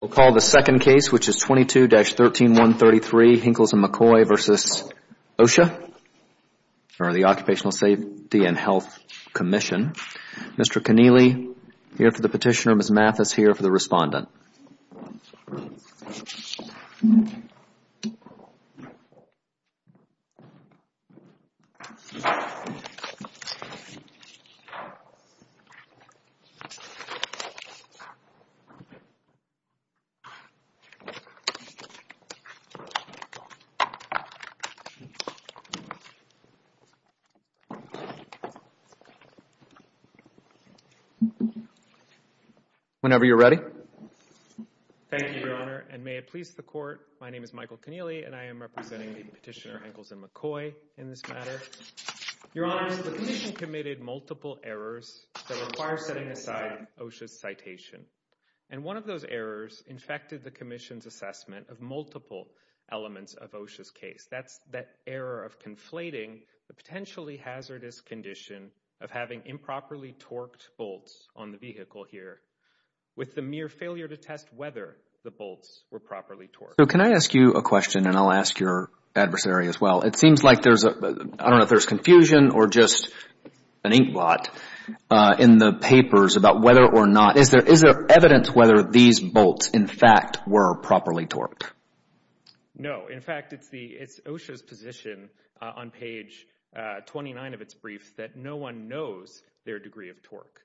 We'll call the second case, which is 22-13133, Hinkels & Mccoy v. OSHA, or the Occupational Safety and Health Commission. Mr. Connealy here for the petitioner, Ms. Mathis here for the respondent. Mr. Connealy, whenever you're ready. Thank you, Your Honor, and may it please the Court, my name is Michael Connealy and I am representing Petitioner Hinkels & Mccoy in this matter. Your Honor, the Commission committed multiple errors that require setting aside OSHA's citation. And one of those errors infected the Commission's assessment of multiple elements of OSHA's case. That's that error of conflating the potentially hazardous condition of having improperly torqued bolts on the vehicle here, with the mere failure to test whether the bolts were properly torqued. So can I ask you a question and I'll ask your adversary as well. It seems like there's, I don't know if there's confusion or just an inkblot in the papers about whether or not, is there evidence whether these bolts in fact were properly torqued? No. In fact, it's OSHA's position on page 29 of its briefs that no one knows their degree of torque.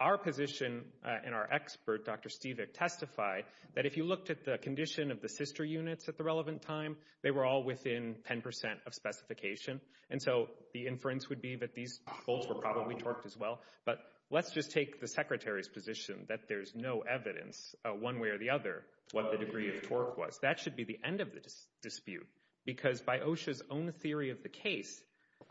Our position and our expert, Dr. Stevick, testified that if you looked at the condition of the sister units at the relevant time, they were all within 10% of specification. And so the inference would be that these bolts were probably torqued as well. But let's just take the Secretary's position that there's no evidence one way or the other what the degree of torque was. That should be the end of this dispute. Because by OSHA's own theory of the case,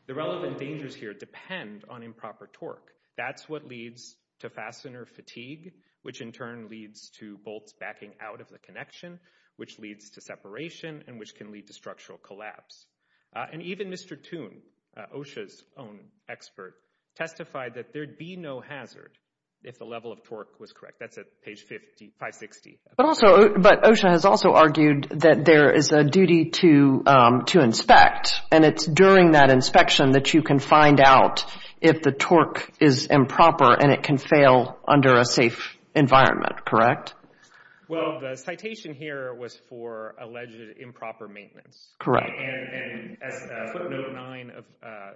the relevant dangers here depend on improper torque. That's what leads to fastener fatigue, which in turn leads to bolts backing out of the connection, which leads to separation and which can lead to structural collapse. And even Mr. Toon, OSHA's own expert, testified that there'd be no hazard if the level of torque was correct. That's at page 50, 560. But OSHA has also argued that there is a duty to inspect and it's during that inspection that you can find out if the torque is improper and it can fail under a safe environment, correct? Well, the citation here was for alleged improper maintenance. Correct. And as footnote 9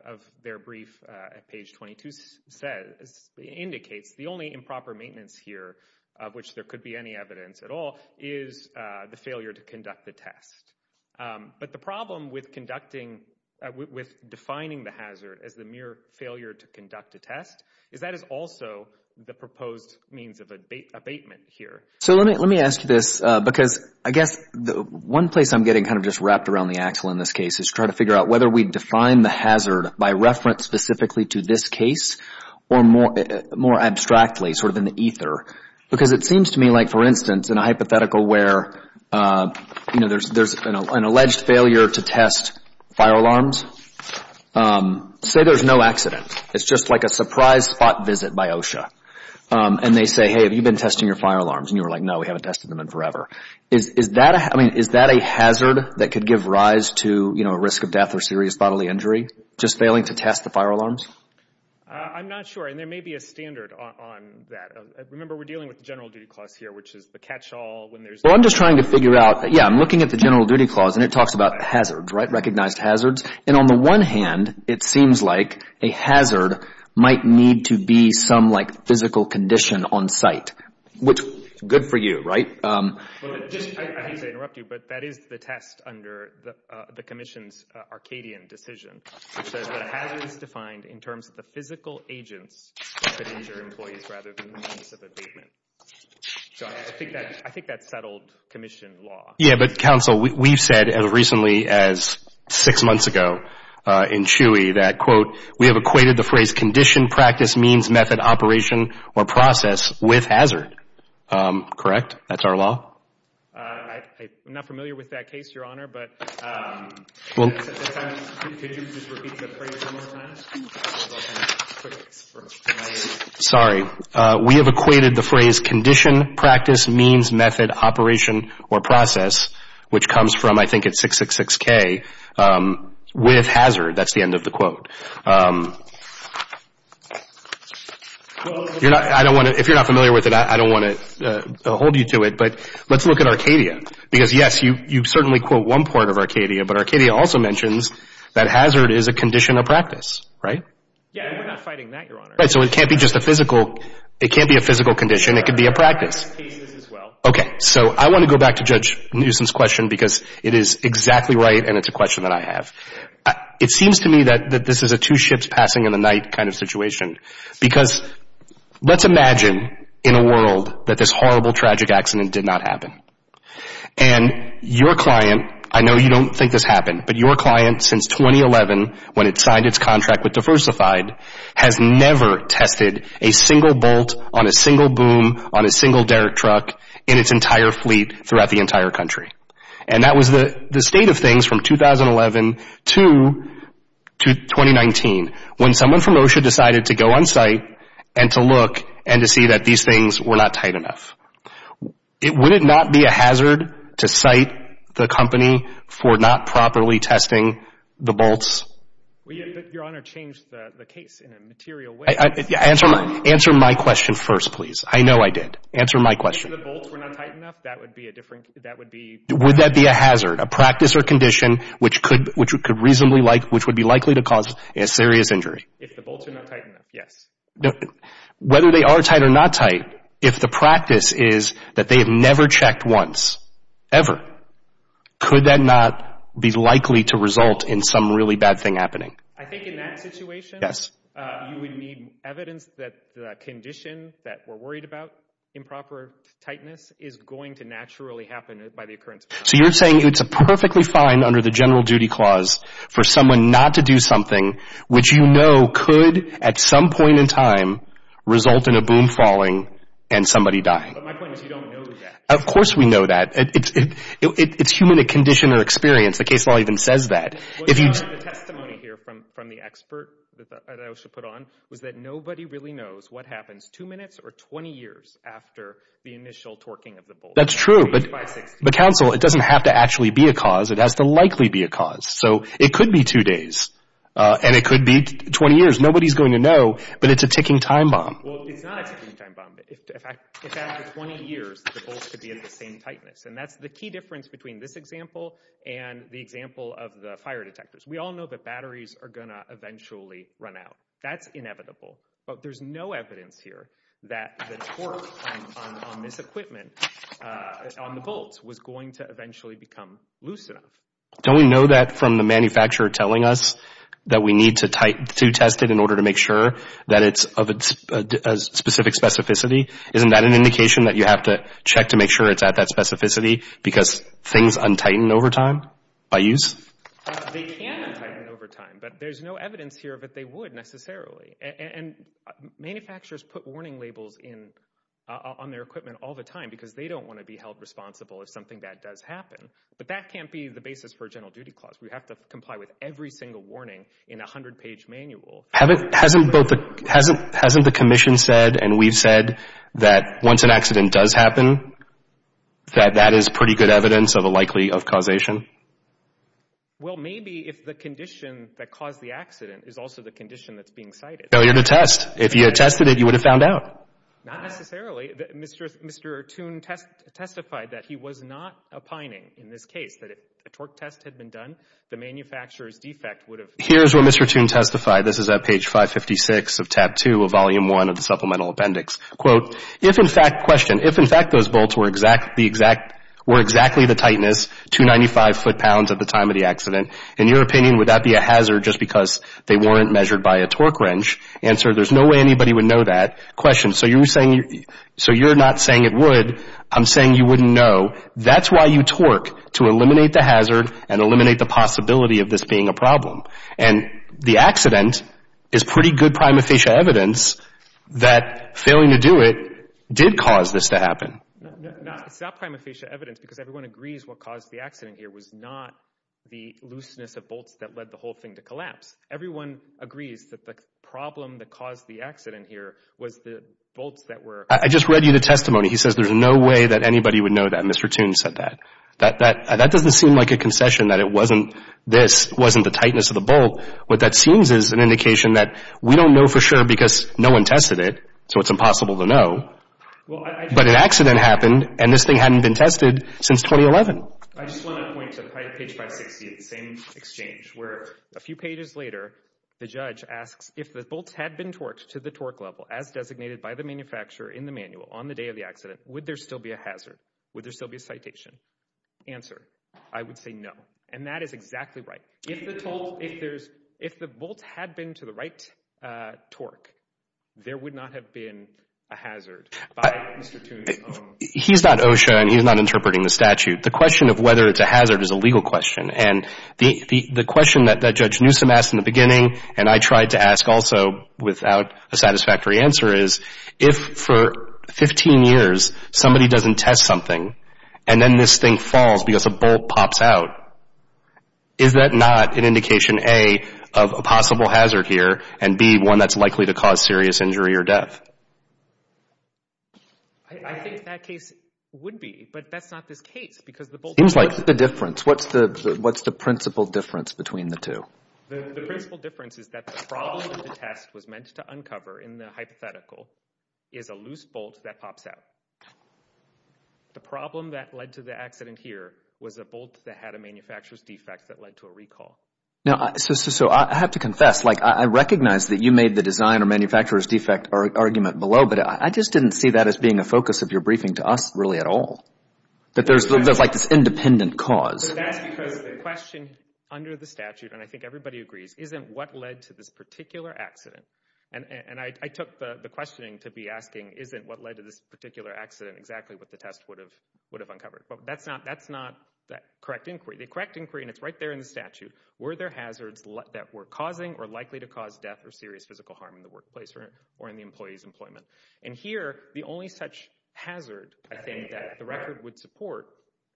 of their brief at page 22 says, indicates the only improper maintenance here of which there could be any evidence at all is the failure to conduct the test. But the problem with defining the hazard as the mere failure to conduct a test is that is also the proposed means of abatement here. So let me ask you this, because I guess one place I'm getting kind of just wrapped around the axle in this case is trying to figure out whether we define the hazard by reference specifically to this case or more abstractly, sort of in the ether. Because it seems to me like, for instance, in a hypothetical where there's an alleged failure to test fire alarms, say there's no accident. It's just like a surprise spot visit by OSHA. And they say, hey, have you been testing your fire alarms? And you're like, no, we haven't tested them in forever. Is that a hazard that could give rise to a risk of death or serious bodily injury, just failing to test the fire alarms? I'm not sure. And there may be a standard on that. Remember, we're dealing with the General Duty Clause here, which is the catch-all when there's Well, I'm just trying to figure out that, yeah, I'm looking at the General Duty Clause and it talks about hazards, right? Recognized hazards. And on the one hand, it seems like a hazard might need to be some, like, physical condition on site, which is good for you, right? I hate to interrupt you, but that is the test under the Commission's Arcadian decision, which says that a hazard is defined in terms of the physical agents that injure employees rather than the means of abatement. So I think that's settled Commission law. Yeah, but, counsel, we've said, as recently as six months ago in Chewy, that, quote, we have equated the phrase condition, practice, means, method, operation, or process with hazard. Correct? That's our law? I'm not familiar with that case, Your Honor, but At that time, could you just repeat the phrase one more time? Sorry. We have equated the phrase condition, practice, means, method, operation, or process, which comes from, I think it's 666K, with hazard. That's the end of the quote. If you're not familiar with it, I don't want to hold you to it, but let's look at Arcadia. Because, yes, you certainly quote one part of Arcadia, but Arcadia also mentions that hazard is a condition of practice, right? Yeah, and we're not fighting that, Your Honor. Right, so it can't be just a physical condition. It could be a practice. Okay, so I want to go back to Judge Newsom's question because it is exactly right, and it's a question that I have. It seems to me that this is a two ships passing in the night kind of situation because let's imagine in a world that this horrible, tragic accident did not happen. And your client, I know you don't think this happened, but your client since 2011 when it signed its contract with Diversified has never tested a single bolt on a single boom on a single Derek truck in its entire fleet throughout the entire country. And that was the state of things from 2011 to 2019 when someone from OSHA decided to go on site and to look and to see that these things were not tight enough. Would it not be a hazard to cite the company for not properly testing the bolts? Your Honor changed the case in a material way. Answer my question first, please. I know I did. Answer my question. If the bolts were not tight enough, that would be a different, that would be... Would that be a hazard, a practice or condition which could reasonably, which would be likely to cause a serious injury? If the bolts are not tight enough, yes. Whether they are tight or not tight, if the practice is that they have never checked once, ever, could that not be likely to result in some really bad thing happening? I think in that situation you would need evidence that the condition that we're worried about, improper tightness, is going to naturally happen by the occurrence of... which you know could, at some point in time, result in a boom falling and somebody dying. But my point is you don't know that. Of course we know that. It's human condition or experience. The case law even says that. The testimony here from the expert that OSHA put on was that nobody really knows what happens two minutes or 20 years after the initial torquing of the bolts. That's true. But counsel, it doesn't have to actually be a cause. It has to likely be a cause. So it could be two days, and it could be 20 years. Nobody's going to know, but it's a ticking time bomb. Well, it's not a ticking time bomb. If after 20 years the bolts could be at the same tightness. And that's the key difference between this example and the example of the fire detectors. We all know that batteries are going to eventually run out. That's inevitable. But there's no evidence here that the torque on this equipment, on the bolts, was going to eventually become loose enough. Don't we know that from the manufacturer telling us that we need to test it in order to make sure that it's of a specific specificity? Isn't that an indication that you have to check to make sure it's at that specificity because things untighten over time by use? They can untighten over time, but there's no evidence here that they would necessarily. And manufacturers put warning labels on their equipment all the time because they don't want to be held responsible if something bad does happen. But that can't be the basis for a general duty clause. We have to comply with every single warning in a 100-page manual. Hasn't the commission said and we've said that once an accident does happen, that that is pretty good evidence of a likely causation? Well, maybe if the condition that caused the accident is also the condition that's being cited. Failure to test. If you had tested it, you would have found out. Not necessarily. Mr. Toon testified that he was not opining in this case, that if a torque test had been done, the manufacturer's defect would have... Here's where Mr. Toon testified. This is at page 556 of tab 2 of volume 1 of the supplemental appendix. Quote, if in fact, question, if in fact those bolts were exactly the tightness, 295 foot-pounds at the time of the accident, in your opinion, would that be a hazard just because they weren't measured by a torque wrench? Answer, there's no way anybody would know that. Question, so you're not saying it would. I'm saying you wouldn't know. That's why you torque, to eliminate the hazard and eliminate the possibility of this being a problem. And the accident is pretty good prima facie evidence that failing to do it did cause this to happen. It's not prima facie evidence because everyone agrees what caused the accident here was not the looseness of bolts that led the whole thing to collapse. Everyone agrees that the problem that caused the accident here was the bolts that were... I just read you the testimony. He says there's no way that anybody would know that. Mr. Toon said that. That doesn't seem like a concession that it wasn't this, wasn't the tightness of the bolt. What that seems is an indication that we don't know for sure because no one tested it, so it's impossible to know. But an accident happened, and this thing hadn't been tested since 2011. I just want to point to page 560 of the same exchange where a few pages later, the judge asks if the bolts had been torqued to the torque level as designated by the manufacturer in the manual on the day of the accident, would there still be a hazard? Would there still be a citation? Answer, I would say no, and that is exactly right. If the bolts had been to the right torque, there would not have been a hazard by Mr. Toon's own... He's not OSHA, and he's not interpreting the statute. The question of whether it's a hazard is a legal question, and the question that Judge Newsom asked in the beginning and I tried to ask also without a satisfactory answer is if for 15 years somebody doesn't test something and then this thing falls because a bolt pops out, is that not an indication, A, of a possible hazard here, and, B, one that's likely to cause serious injury or death? I think that case would be, but that's not this case because the bolts... What's the difference? What's the principal difference between the two? The principal difference is that the problem that the test was meant to uncover in the hypothetical is a loose bolt that pops out. The problem that led to the accident here was a bolt that had a manufacturer's defect that led to a recall. So I have to confess, like, I recognize that you made the design or manufacturer's defect argument below, but I just didn't see that as being a focus of your briefing to us really at all, that there's like this independent cause. That's because the question under the statute, and I think everybody agrees, isn't what led to this particular accident. And I took the questioning to be asking isn't what led to this particular accident exactly what the test would have uncovered. But that's not that correct inquiry. The correct inquiry, and it's right there in the statute, were there hazards that were causing or likely to cause death or serious physical harm in the workplace or in the employee's employment? And here the only such hazard I think that the record would support,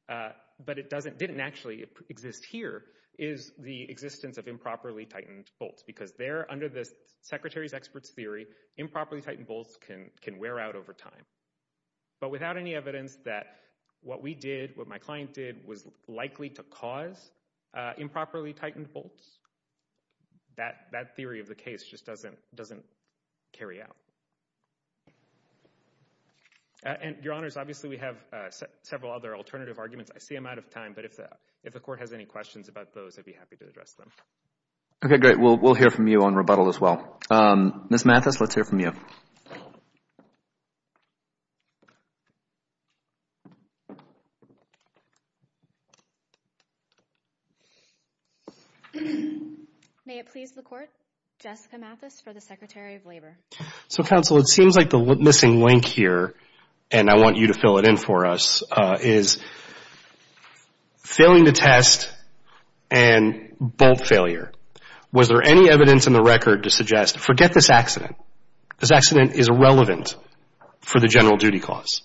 but it didn't actually exist here, is the existence of improperly tightened bolts because there, under the secretary's expert's theory, improperly tightened bolts can wear out over time. But without any evidence that what we did, what my client did was likely to cause improperly tightened bolts, that theory of the case just doesn't carry out. And, Your Honors, obviously we have several other alternative arguments. I see I'm out of time, but if the court has any questions about those, I'd be happy to address them. Okay, great. We'll hear from you on rebuttal as well. Ms. Mathis, let's hear from you. May it please the court, Jessica Mathis for the Secretary of Labor. So, counsel, it seems like the missing link here, and I want you to fill it in for us, is failing to test and bolt failure. Was there any evidence in the record to suggest, forget this accident, this accident is irrelevant for the general duty clause.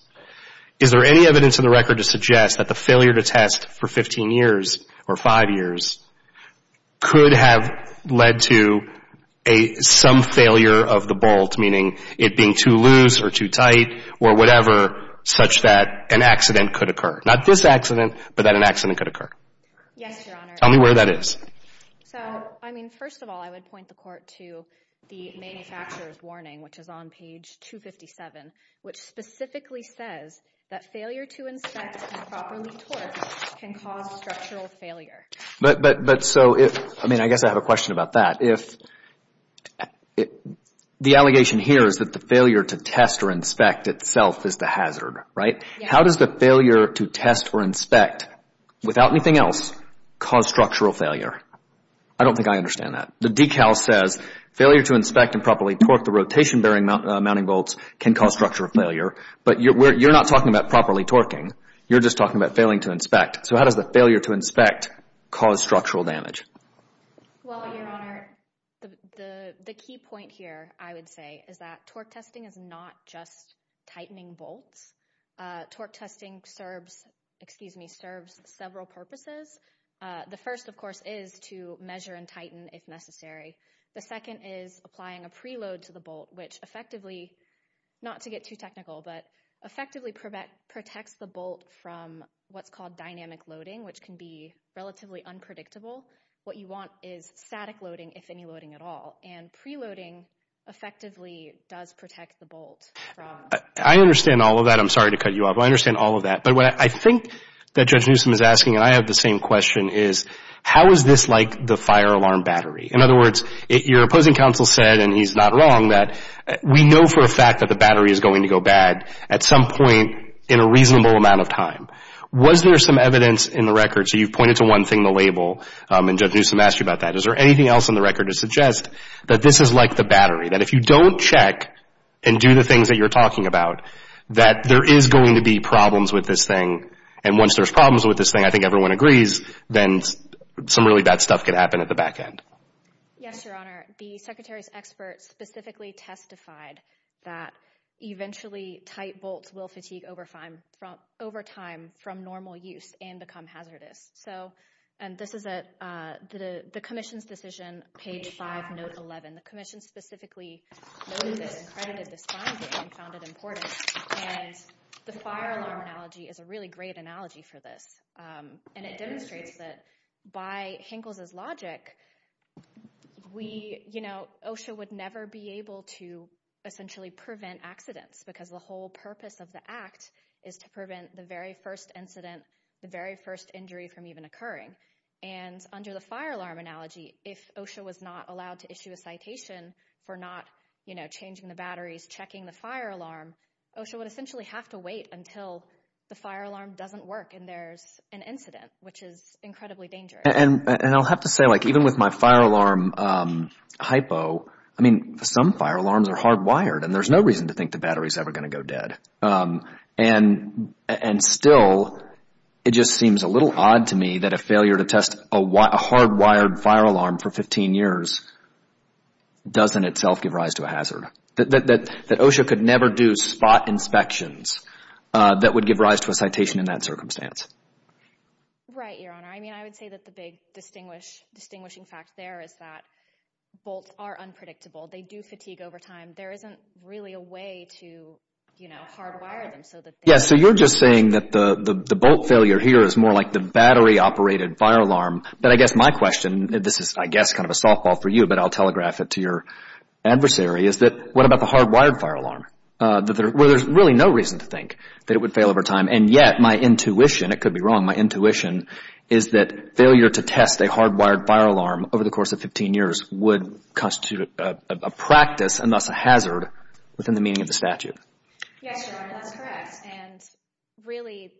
Is there any evidence in the record to suggest that the failure to test for 15 years or 5 years could have led to some failure of the bolt, meaning it being too loose or too tight or whatever, such that an accident could occur? Not this accident, but that an accident could occur. Yes, Your Honor. Tell me where that is. So, I mean, first of all, I would point the court to the manufacturer's warning, which is on page 257, which specifically says that failure to inspect improperly torqued can cause structural failure. But, so, I mean, I guess I have a question about that. What if the allegation here is that the failure to test or inspect itself is the hazard, right? Yes. How does the failure to test or inspect without anything else cause structural failure? I don't think I understand that. The decal says failure to inspect improperly torqued, the rotation bearing mounting bolts can cause structural failure. But you're not talking about properly torquing. You're just talking about failing to inspect. So how does the failure to inspect cause structural damage? Well, Your Honor, the key point here, I would say, is that torque testing is not just tightening bolts. Torque testing serves several purposes. The first, of course, is to measure and tighten if necessary. The second is applying a preload to the bolt, which effectively, not to get too technical, but effectively protects the bolt from what's called dynamic loading, which can be relatively unpredictable. What you want is static loading, if any loading at all. And preloading effectively does protect the bolt. I understand all of that. I'm sorry to cut you off. I understand all of that. But what I think that Judge Newsom is asking, and I have the same question, is how is this like the fire alarm battery? In other words, your opposing counsel said, and he's not wrong, that we know for a fact that the battery is going to go bad at some point in a reasonable amount of time. Was there some evidence in the record? So you've pointed to one thing, the label, and Judge Newsom asked you about that. Is there anything else in the record to suggest that this is like the battery, that if you don't check and do the things that you're talking about, that there is going to be problems with this thing? And once there's problems with this thing, I think everyone agrees, then some really bad stuff could happen at the back end. Yes, Your Honor. The Secretary's experts specifically testified that eventually tight bolts will fatigue over time from normal use and become hazardous. And this is the Commission's decision, page 5, note 11. The Commission specifically noted this and credited this finding and found it important. And the fire alarm analogy is a really great analogy for this, and it demonstrates that by Hinkle's logic, OSHA would never be able to essentially prevent accidents because the whole purpose of the act is to prevent the very first incident, the very first injury from even occurring. And under the fire alarm analogy, if OSHA was not allowed to issue a citation for not changing the batteries, checking the fire alarm, OSHA would essentially have to wait until the fire alarm doesn't work and there's an incident, which is incredibly dangerous. And I'll have to say, like even with my fire alarm hypo, I mean, some fire alarms are hardwired, and there's no reason to think the battery's ever going to go dead. And still, it just seems a little odd to me that a failure to test a hardwired fire alarm for 15 years doesn't itself give rise to a hazard, that OSHA could never do spot inspections that would give rise to a citation in that circumstance. Right, Your Honor. I mean, I would say that the big distinguishing fact there is that bolts are unpredictable. They do fatigue over time. There isn't really a way to, you know, hardwire them. Yeah, so you're just saying that the bolt failure here is more like the battery-operated fire alarm. But I guess my question, and this is, I guess, kind of a softball for you, but I'll telegraph it to your adversary, is that what about the hardwired fire alarm, where there's really no reason to think that it would fail over time. And yet, my intuition, it could be wrong, my intuition is that failure to test a hardwired fire alarm over the course of 15 years would constitute a practice and thus a hazard within the meaning of the statute. Yes, Your Honor, that's correct. And really,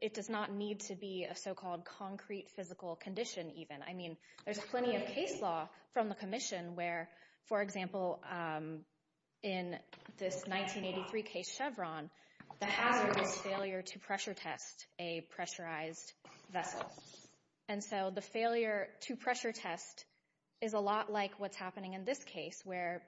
it does not need to be a so-called concrete physical condition even. I mean, there's plenty of case law from the Commission where, for example, in this 1983 case Chevron, the hazard is failure to pressure test a pressurized vessel. And so the failure to pressure test is a lot like what's happening in this case, where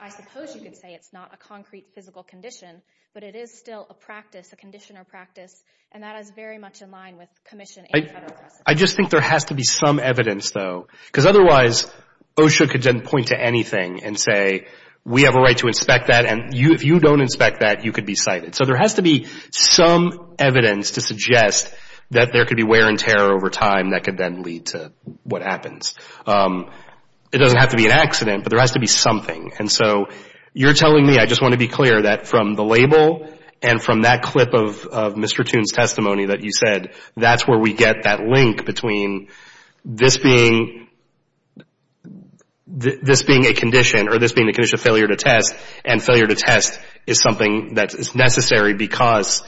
I suppose you could say it's not a concrete physical condition, but it is still a practice, a conditioner practice, and that is very much in line with Commission and federal precedent. I just think there has to be some evidence, though, because otherwise OSHA could then point to anything and say, we have a right to inspect that, and if you don't inspect that, you could be cited. So there has to be some evidence to suggest that there could be wear and tear over time that could then lead to what happens. It doesn't have to be an accident, but there has to be something. And so you're telling me, I just want to be clear, that from the label and from that clip of Mr. Toon's testimony that you said, that's where we get that link between this being a condition or this being a condition of failure to test, and failure to test is something that is necessary, because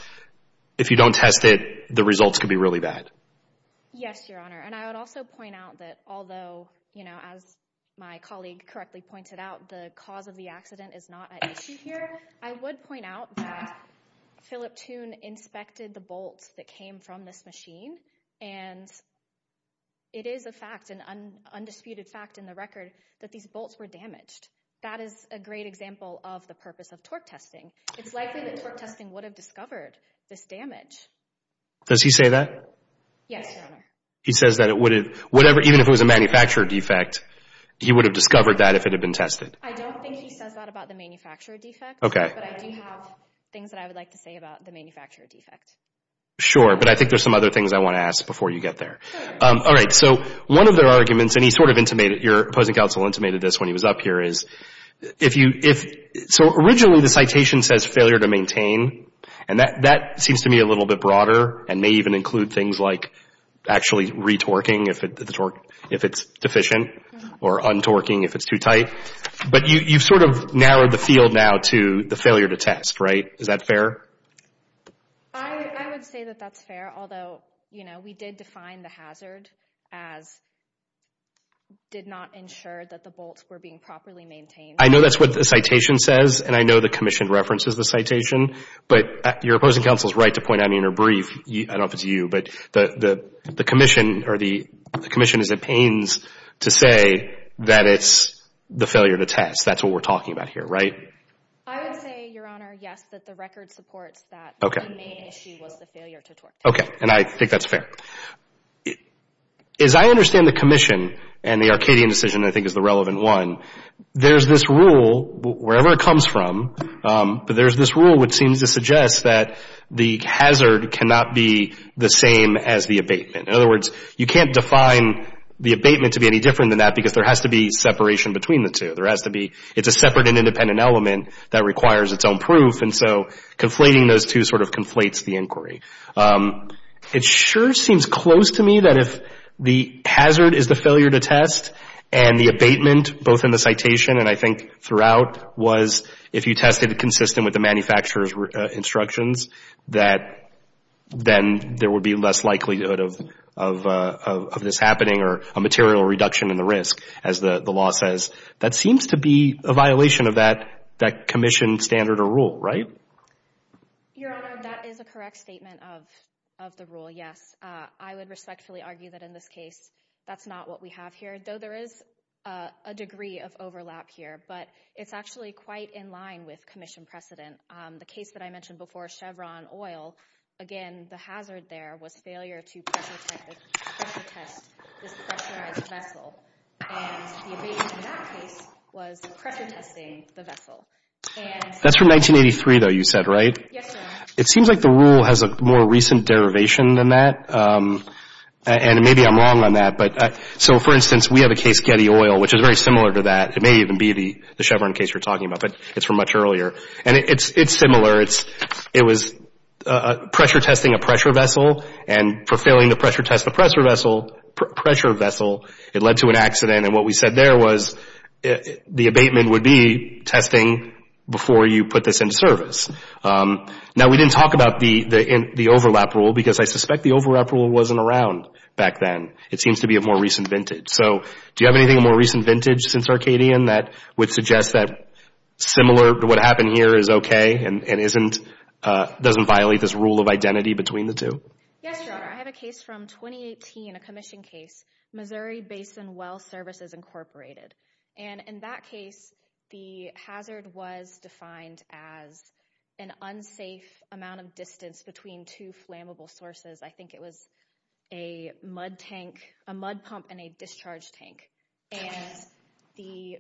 if you don't test it, the results could be really bad. Yes, Your Honor, and I would also point out that although, as my colleague correctly pointed out, the cause of the accident is not an issue here, I would point out that Philip Toon inspected the bolts that came from this machine, and it is a fact, that is a great example of the purpose of torque testing. It's likely that torque testing would have discovered this damage. Does he say that? Yes, Your Honor. He says that it would have, whatever, even if it was a manufacturer defect, he would have discovered that if it had been tested. I don't think he says that about the manufacturer defect, but I do have things that I would like to say about the manufacturer defect. Sure, but I think there's some other things I want to ask before you get there. Sure. All right, so one of their arguments, and he sort of intimated, your opposing counsel intimated this when he was up here, is if you, so originally the citation says failure to maintain, and that seems to me a little bit broader, and may even include things like actually retorquing if it's deficient, or untorquing if it's too tight, but you've sort of narrowed the field now to the failure to test, right? Is that fair? I would say that that's fair, although, you know, we did define the hazard as did not ensure that the bolts were being properly maintained. I know that's what the citation says, and I know the commission references the citation, but your opposing counsel is right to point out in your brief, I don't know if it's you, but the commission is at pains to say that it's the failure to test. That's what we're talking about here, right? I would say, Your Honor, yes, that the record supports that. Okay. The main issue was the failure to torque test. Okay, and I think that's fair. As I understand the commission, and the Arcadian decision, I think, is the relevant one, there's this rule, wherever it comes from, but there's this rule which seems to suggest that the hazard cannot be the same as the abatement. In other words, you can't define the abatement to be any different than that because there has to be separation between the two. There has to be – it's a separate and independent element that requires its own proof, and so conflating those two sort of conflates the inquiry. It sure seems close to me that if the hazard is the failure to test and the abatement, both in the citation and I think throughout, was if you tested it consistent with the manufacturer's instructions, that then there would be less likelihood of this happening or a material reduction in the risk, as the law says. That seems to be a violation of that commission standard or rule, right? Your Honor, that is a correct statement of the rule, yes. I would respectfully argue that in this case that's not what we have here, though there is a degree of overlap here, but it's actually quite in line with commission precedent. The case that I mentioned before, Chevron Oil, again, the hazard there was failure to pressure test this pressurized vessel, and the abatement in that case was pressure testing the vessel. That's from 1983, though, you said, right? Yes, Your Honor. It seems like the rule has a more recent derivation than that, and maybe I'm wrong on that. So, for instance, we have a case, Getty Oil, which is very similar to that. It may even be the Chevron case you're talking about, but it's from much earlier, and it's similar. It was pressure testing a pressure vessel, and for failing to pressure test the pressure vessel, it led to an accident, and what we said there was the abatement would be testing before you put this in service. Now, we didn't talk about the overlap rule because I suspect the overlap rule wasn't around back then. It seems to be a more recent vintage. So do you have anything more recent vintage since Arcadian that would suggest that similar to what happened here is okay and doesn't violate this rule of identity between the two? Yes, Your Honor. I have a case from 2018, a commission case, Missouri Basin Well Services Incorporated, and in that case the hazard was defined as an unsafe amount of distance between two flammable sources. I think it was a mud tank, a mud pump and a discharge tank, and the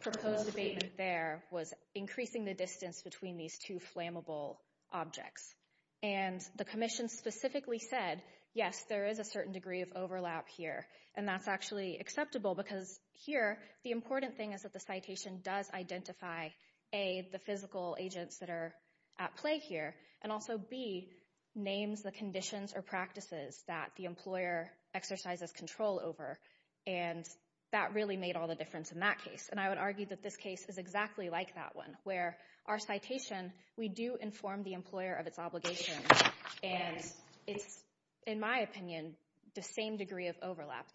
proposed abatement there was increasing the distance between these two flammable objects. And the commission specifically said, yes, there is a certain degree of overlap here, and that's actually acceptable because here the important thing is that the citation does identify, A, the physical agents that are at play here, and also, B, names the conditions or practices that the employer exercises control over, and that really made all the difference in that case. And I would argue that this case is exactly like that one, where our citation, we do inform the employer of its obligations, and it's, in my opinion, the same degree of overlap there.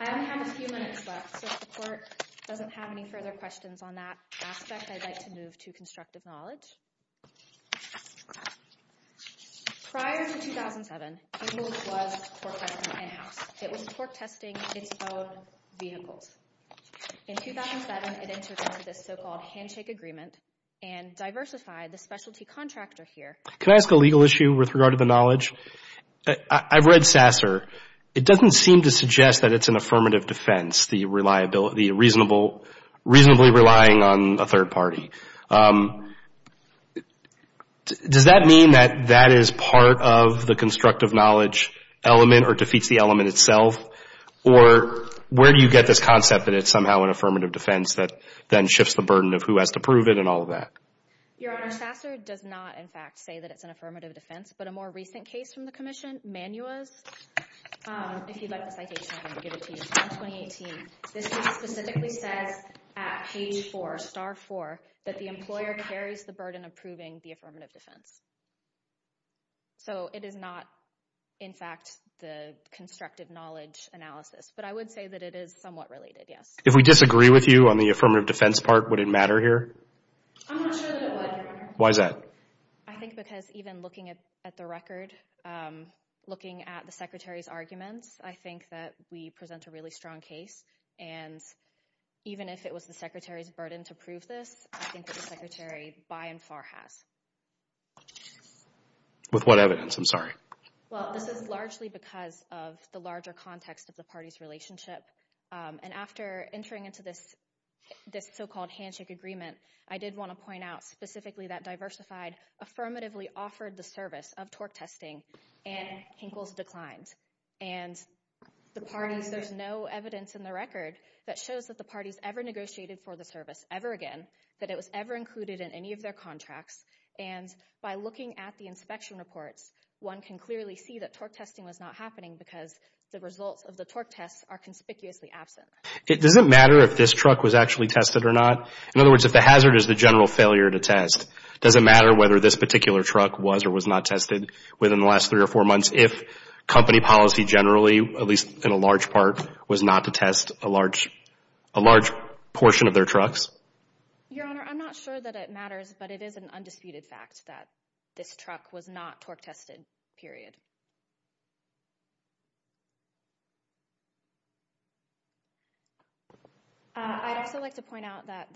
I only have a few minutes left, so if the Court doesn't have any further questions on that aspect, I'd like to move to constructive knowledge. Prior to 2007, the rule was torque testing in-house. It was torque testing its own vehicles. In 2007, it entered into this so-called handshake agreement and diversified the specialty contractor here. Can I ask a legal issue with regard to the knowledge? I've read SASR. It doesn't seem to suggest that it's an affirmative defense, the reasonably relying on a third party. Does that mean that that is part of the constructive knowledge element in itself, or where do you get this concept that it's somehow an affirmative defense that then shifts the burden of who has to prove it and all of that? Your Honor, SASR does not, in fact, say that it's an affirmative defense, but a more recent case from the Commission, Manua's, if you'd like the citation, I can give it to you. It's from 2018. This case specifically says at page 4, star 4, that the employer carries the burden of proving the affirmative defense. So it is not, in fact, the constructive knowledge analysis, but I would say that it is somewhat related, yes. If we disagree with you on the affirmative defense part, would it matter here? I'm not sure that it would. Why is that? I think because even looking at the record, looking at the Secretary's arguments, I think that we present a really strong case, and even if it was the Secretary's burden to prove this, I think that the Secretary by and far has. With what evidence? I'm sorry. Well, this is largely because of the larger context of the parties' relationship, and after entering into this so-called handshake agreement, I did want to point out specifically that Diversified affirmatively offered the service of torque testing, and Hinkle's declined. And the parties, there's no evidence in the record that shows that the parties ever negotiated for the service ever again, that it was ever included in any of their contracts, and by looking at the inspection reports, one can clearly see that torque testing was not happening because the results of the torque tests are conspicuously absent. Does it matter if this truck was actually tested or not? In other words, if the hazard is the general failure to test, does it matter whether this particular truck was or was not tested within the last three or four months if company policy generally, at least in a large part, was not to test a large portion of their trucks? Your Honor, I'm not sure that it matters, but it is an undisputed fact that this truck was not torque tested, period. I'd also like to point out that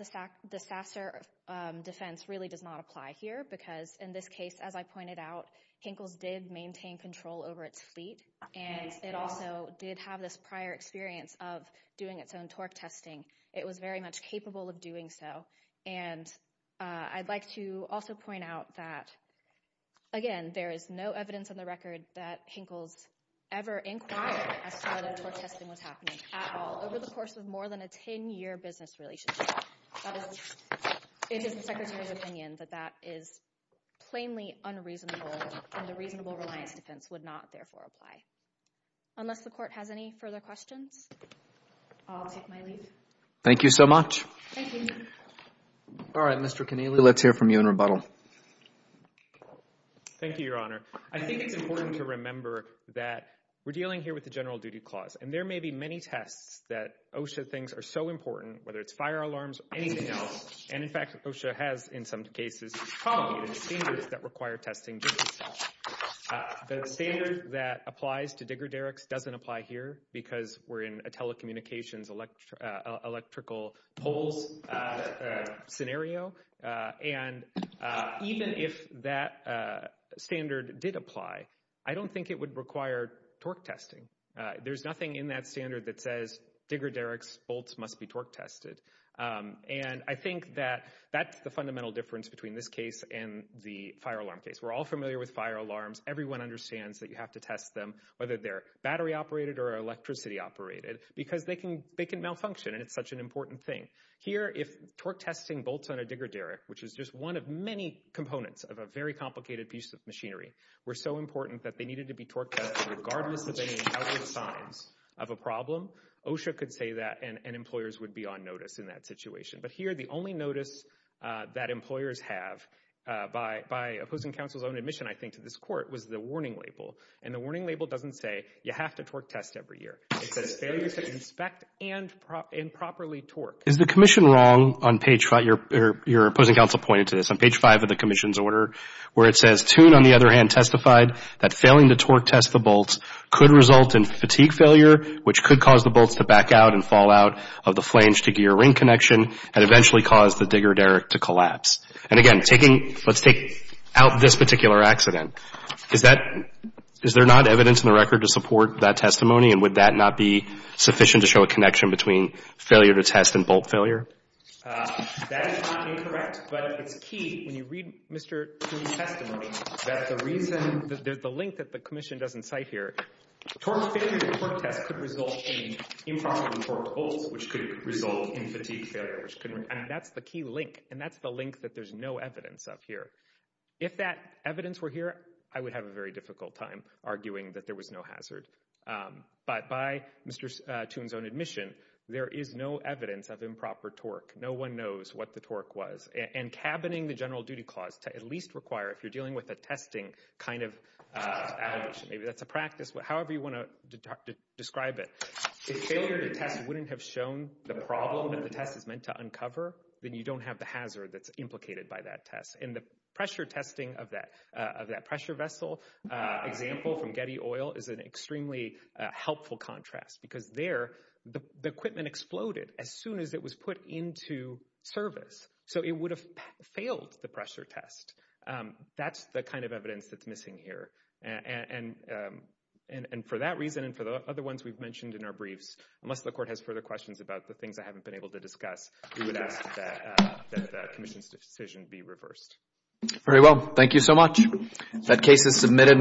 the Sasser defense really does not apply here because in this case, as I pointed out, Hinkle's did maintain control over its fleet, and it also did have this prior experience of doing its own torque testing. It was very much capable of doing so, and I'd like to also point out that, again, there is no evidence on the record that Hinkle's ever inquired as to whether torque testing was happening at all over the course of more than a 10-year business relationship. It is the Secretary's opinion that that is plainly unreasonable, and the reasonable reliance defense would not, therefore, apply. Thank you. Thank you so much. Thank you. All right, Mr. Connealy, let's hear from you in rebuttal. Thank you, Your Honor. I think it's important to remember that we're dealing here with the general duty clause, and there may be many tests that OSHA thinks are so important, whether it's fire alarms or anything else, and, in fact, OSHA has, in some cases, formulated standards that require testing just as well. The standard that applies to Digger Derrick's doesn't apply here because we're in a telecommunications electrical poles scenario, and even if that standard did apply, I don't think it would require torque testing. There's nothing in that standard that says Digger Derrick's bolts must be torque tested, and I think that that's the fundamental difference between this case and the fire alarm case. We're all familiar with fire alarms. Everyone understands that you have to test them, whether they're battery-operated or electricity-operated, because they can malfunction, and it's such an important thing. Here, if torque testing bolts on a Digger Derrick, which is just one of many components of a very complicated piece of machinery, were so important that they needed to be torque tested regardless of any other signs of a problem, OSHA could say that, and employers would be on notice in that situation. But here, the only notice that employers have, by opposing counsel's own admission, I think, to this court, was the warning label, and the warning label doesn't say you have to torque test every year. It says failure to inspect and properly torque. Is the commission wrong on page 5? Your opposing counsel pointed to this. On page 5 of the commission's order, where it says, Toone, on the other hand, testified that failing to torque test the bolts could result in fatigue failure, which could cause the bolts to back out and fall out of the flange-to-gear ring connection and eventually cause the Digger Derrick to collapse. And again, taking — let's take out this particular accident. Is that — is there not evidence in the record to support that testimony, and would that not be sufficient to show a connection between failure to test and bolt failure? That is not incorrect, but it's key, when you read Mr. Toone's testimony, that the reason — there's a link that the commission doesn't cite here. Torque failure to torque test could result in improperly torqued bolts, which could result in fatigue failure. I mean, that's the key link, and that's the link that there's no evidence of here. If that evidence were here, I would have a very difficult time arguing that there was no hazard. But by Mr. Toone's own admission, there is no evidence of improper torque. No one knows what the torque was. And cabining the general duty clause to at least require, if you're dealing with a testing kind of application, maybe that's a practice, however you want to describe it, if failure to test wouldn't have shown the problem that the test is meant to uncover, then you don't have the hazard that's implicated by that test. And the pressure testing of that pressure vessel example from Getty Oil is an extremely helpful contrast, because there, the equipment exploded as soon as it was put into service. So it would have failed the pressure test. That's the kind of evidence that's missing here. And for that reason and for the other ones we've mentioned in our briefs, unless the court has further questions about the things I haven't been able to discuss, we would ask that the commission's decision be reversed. Very well. Thank you so much.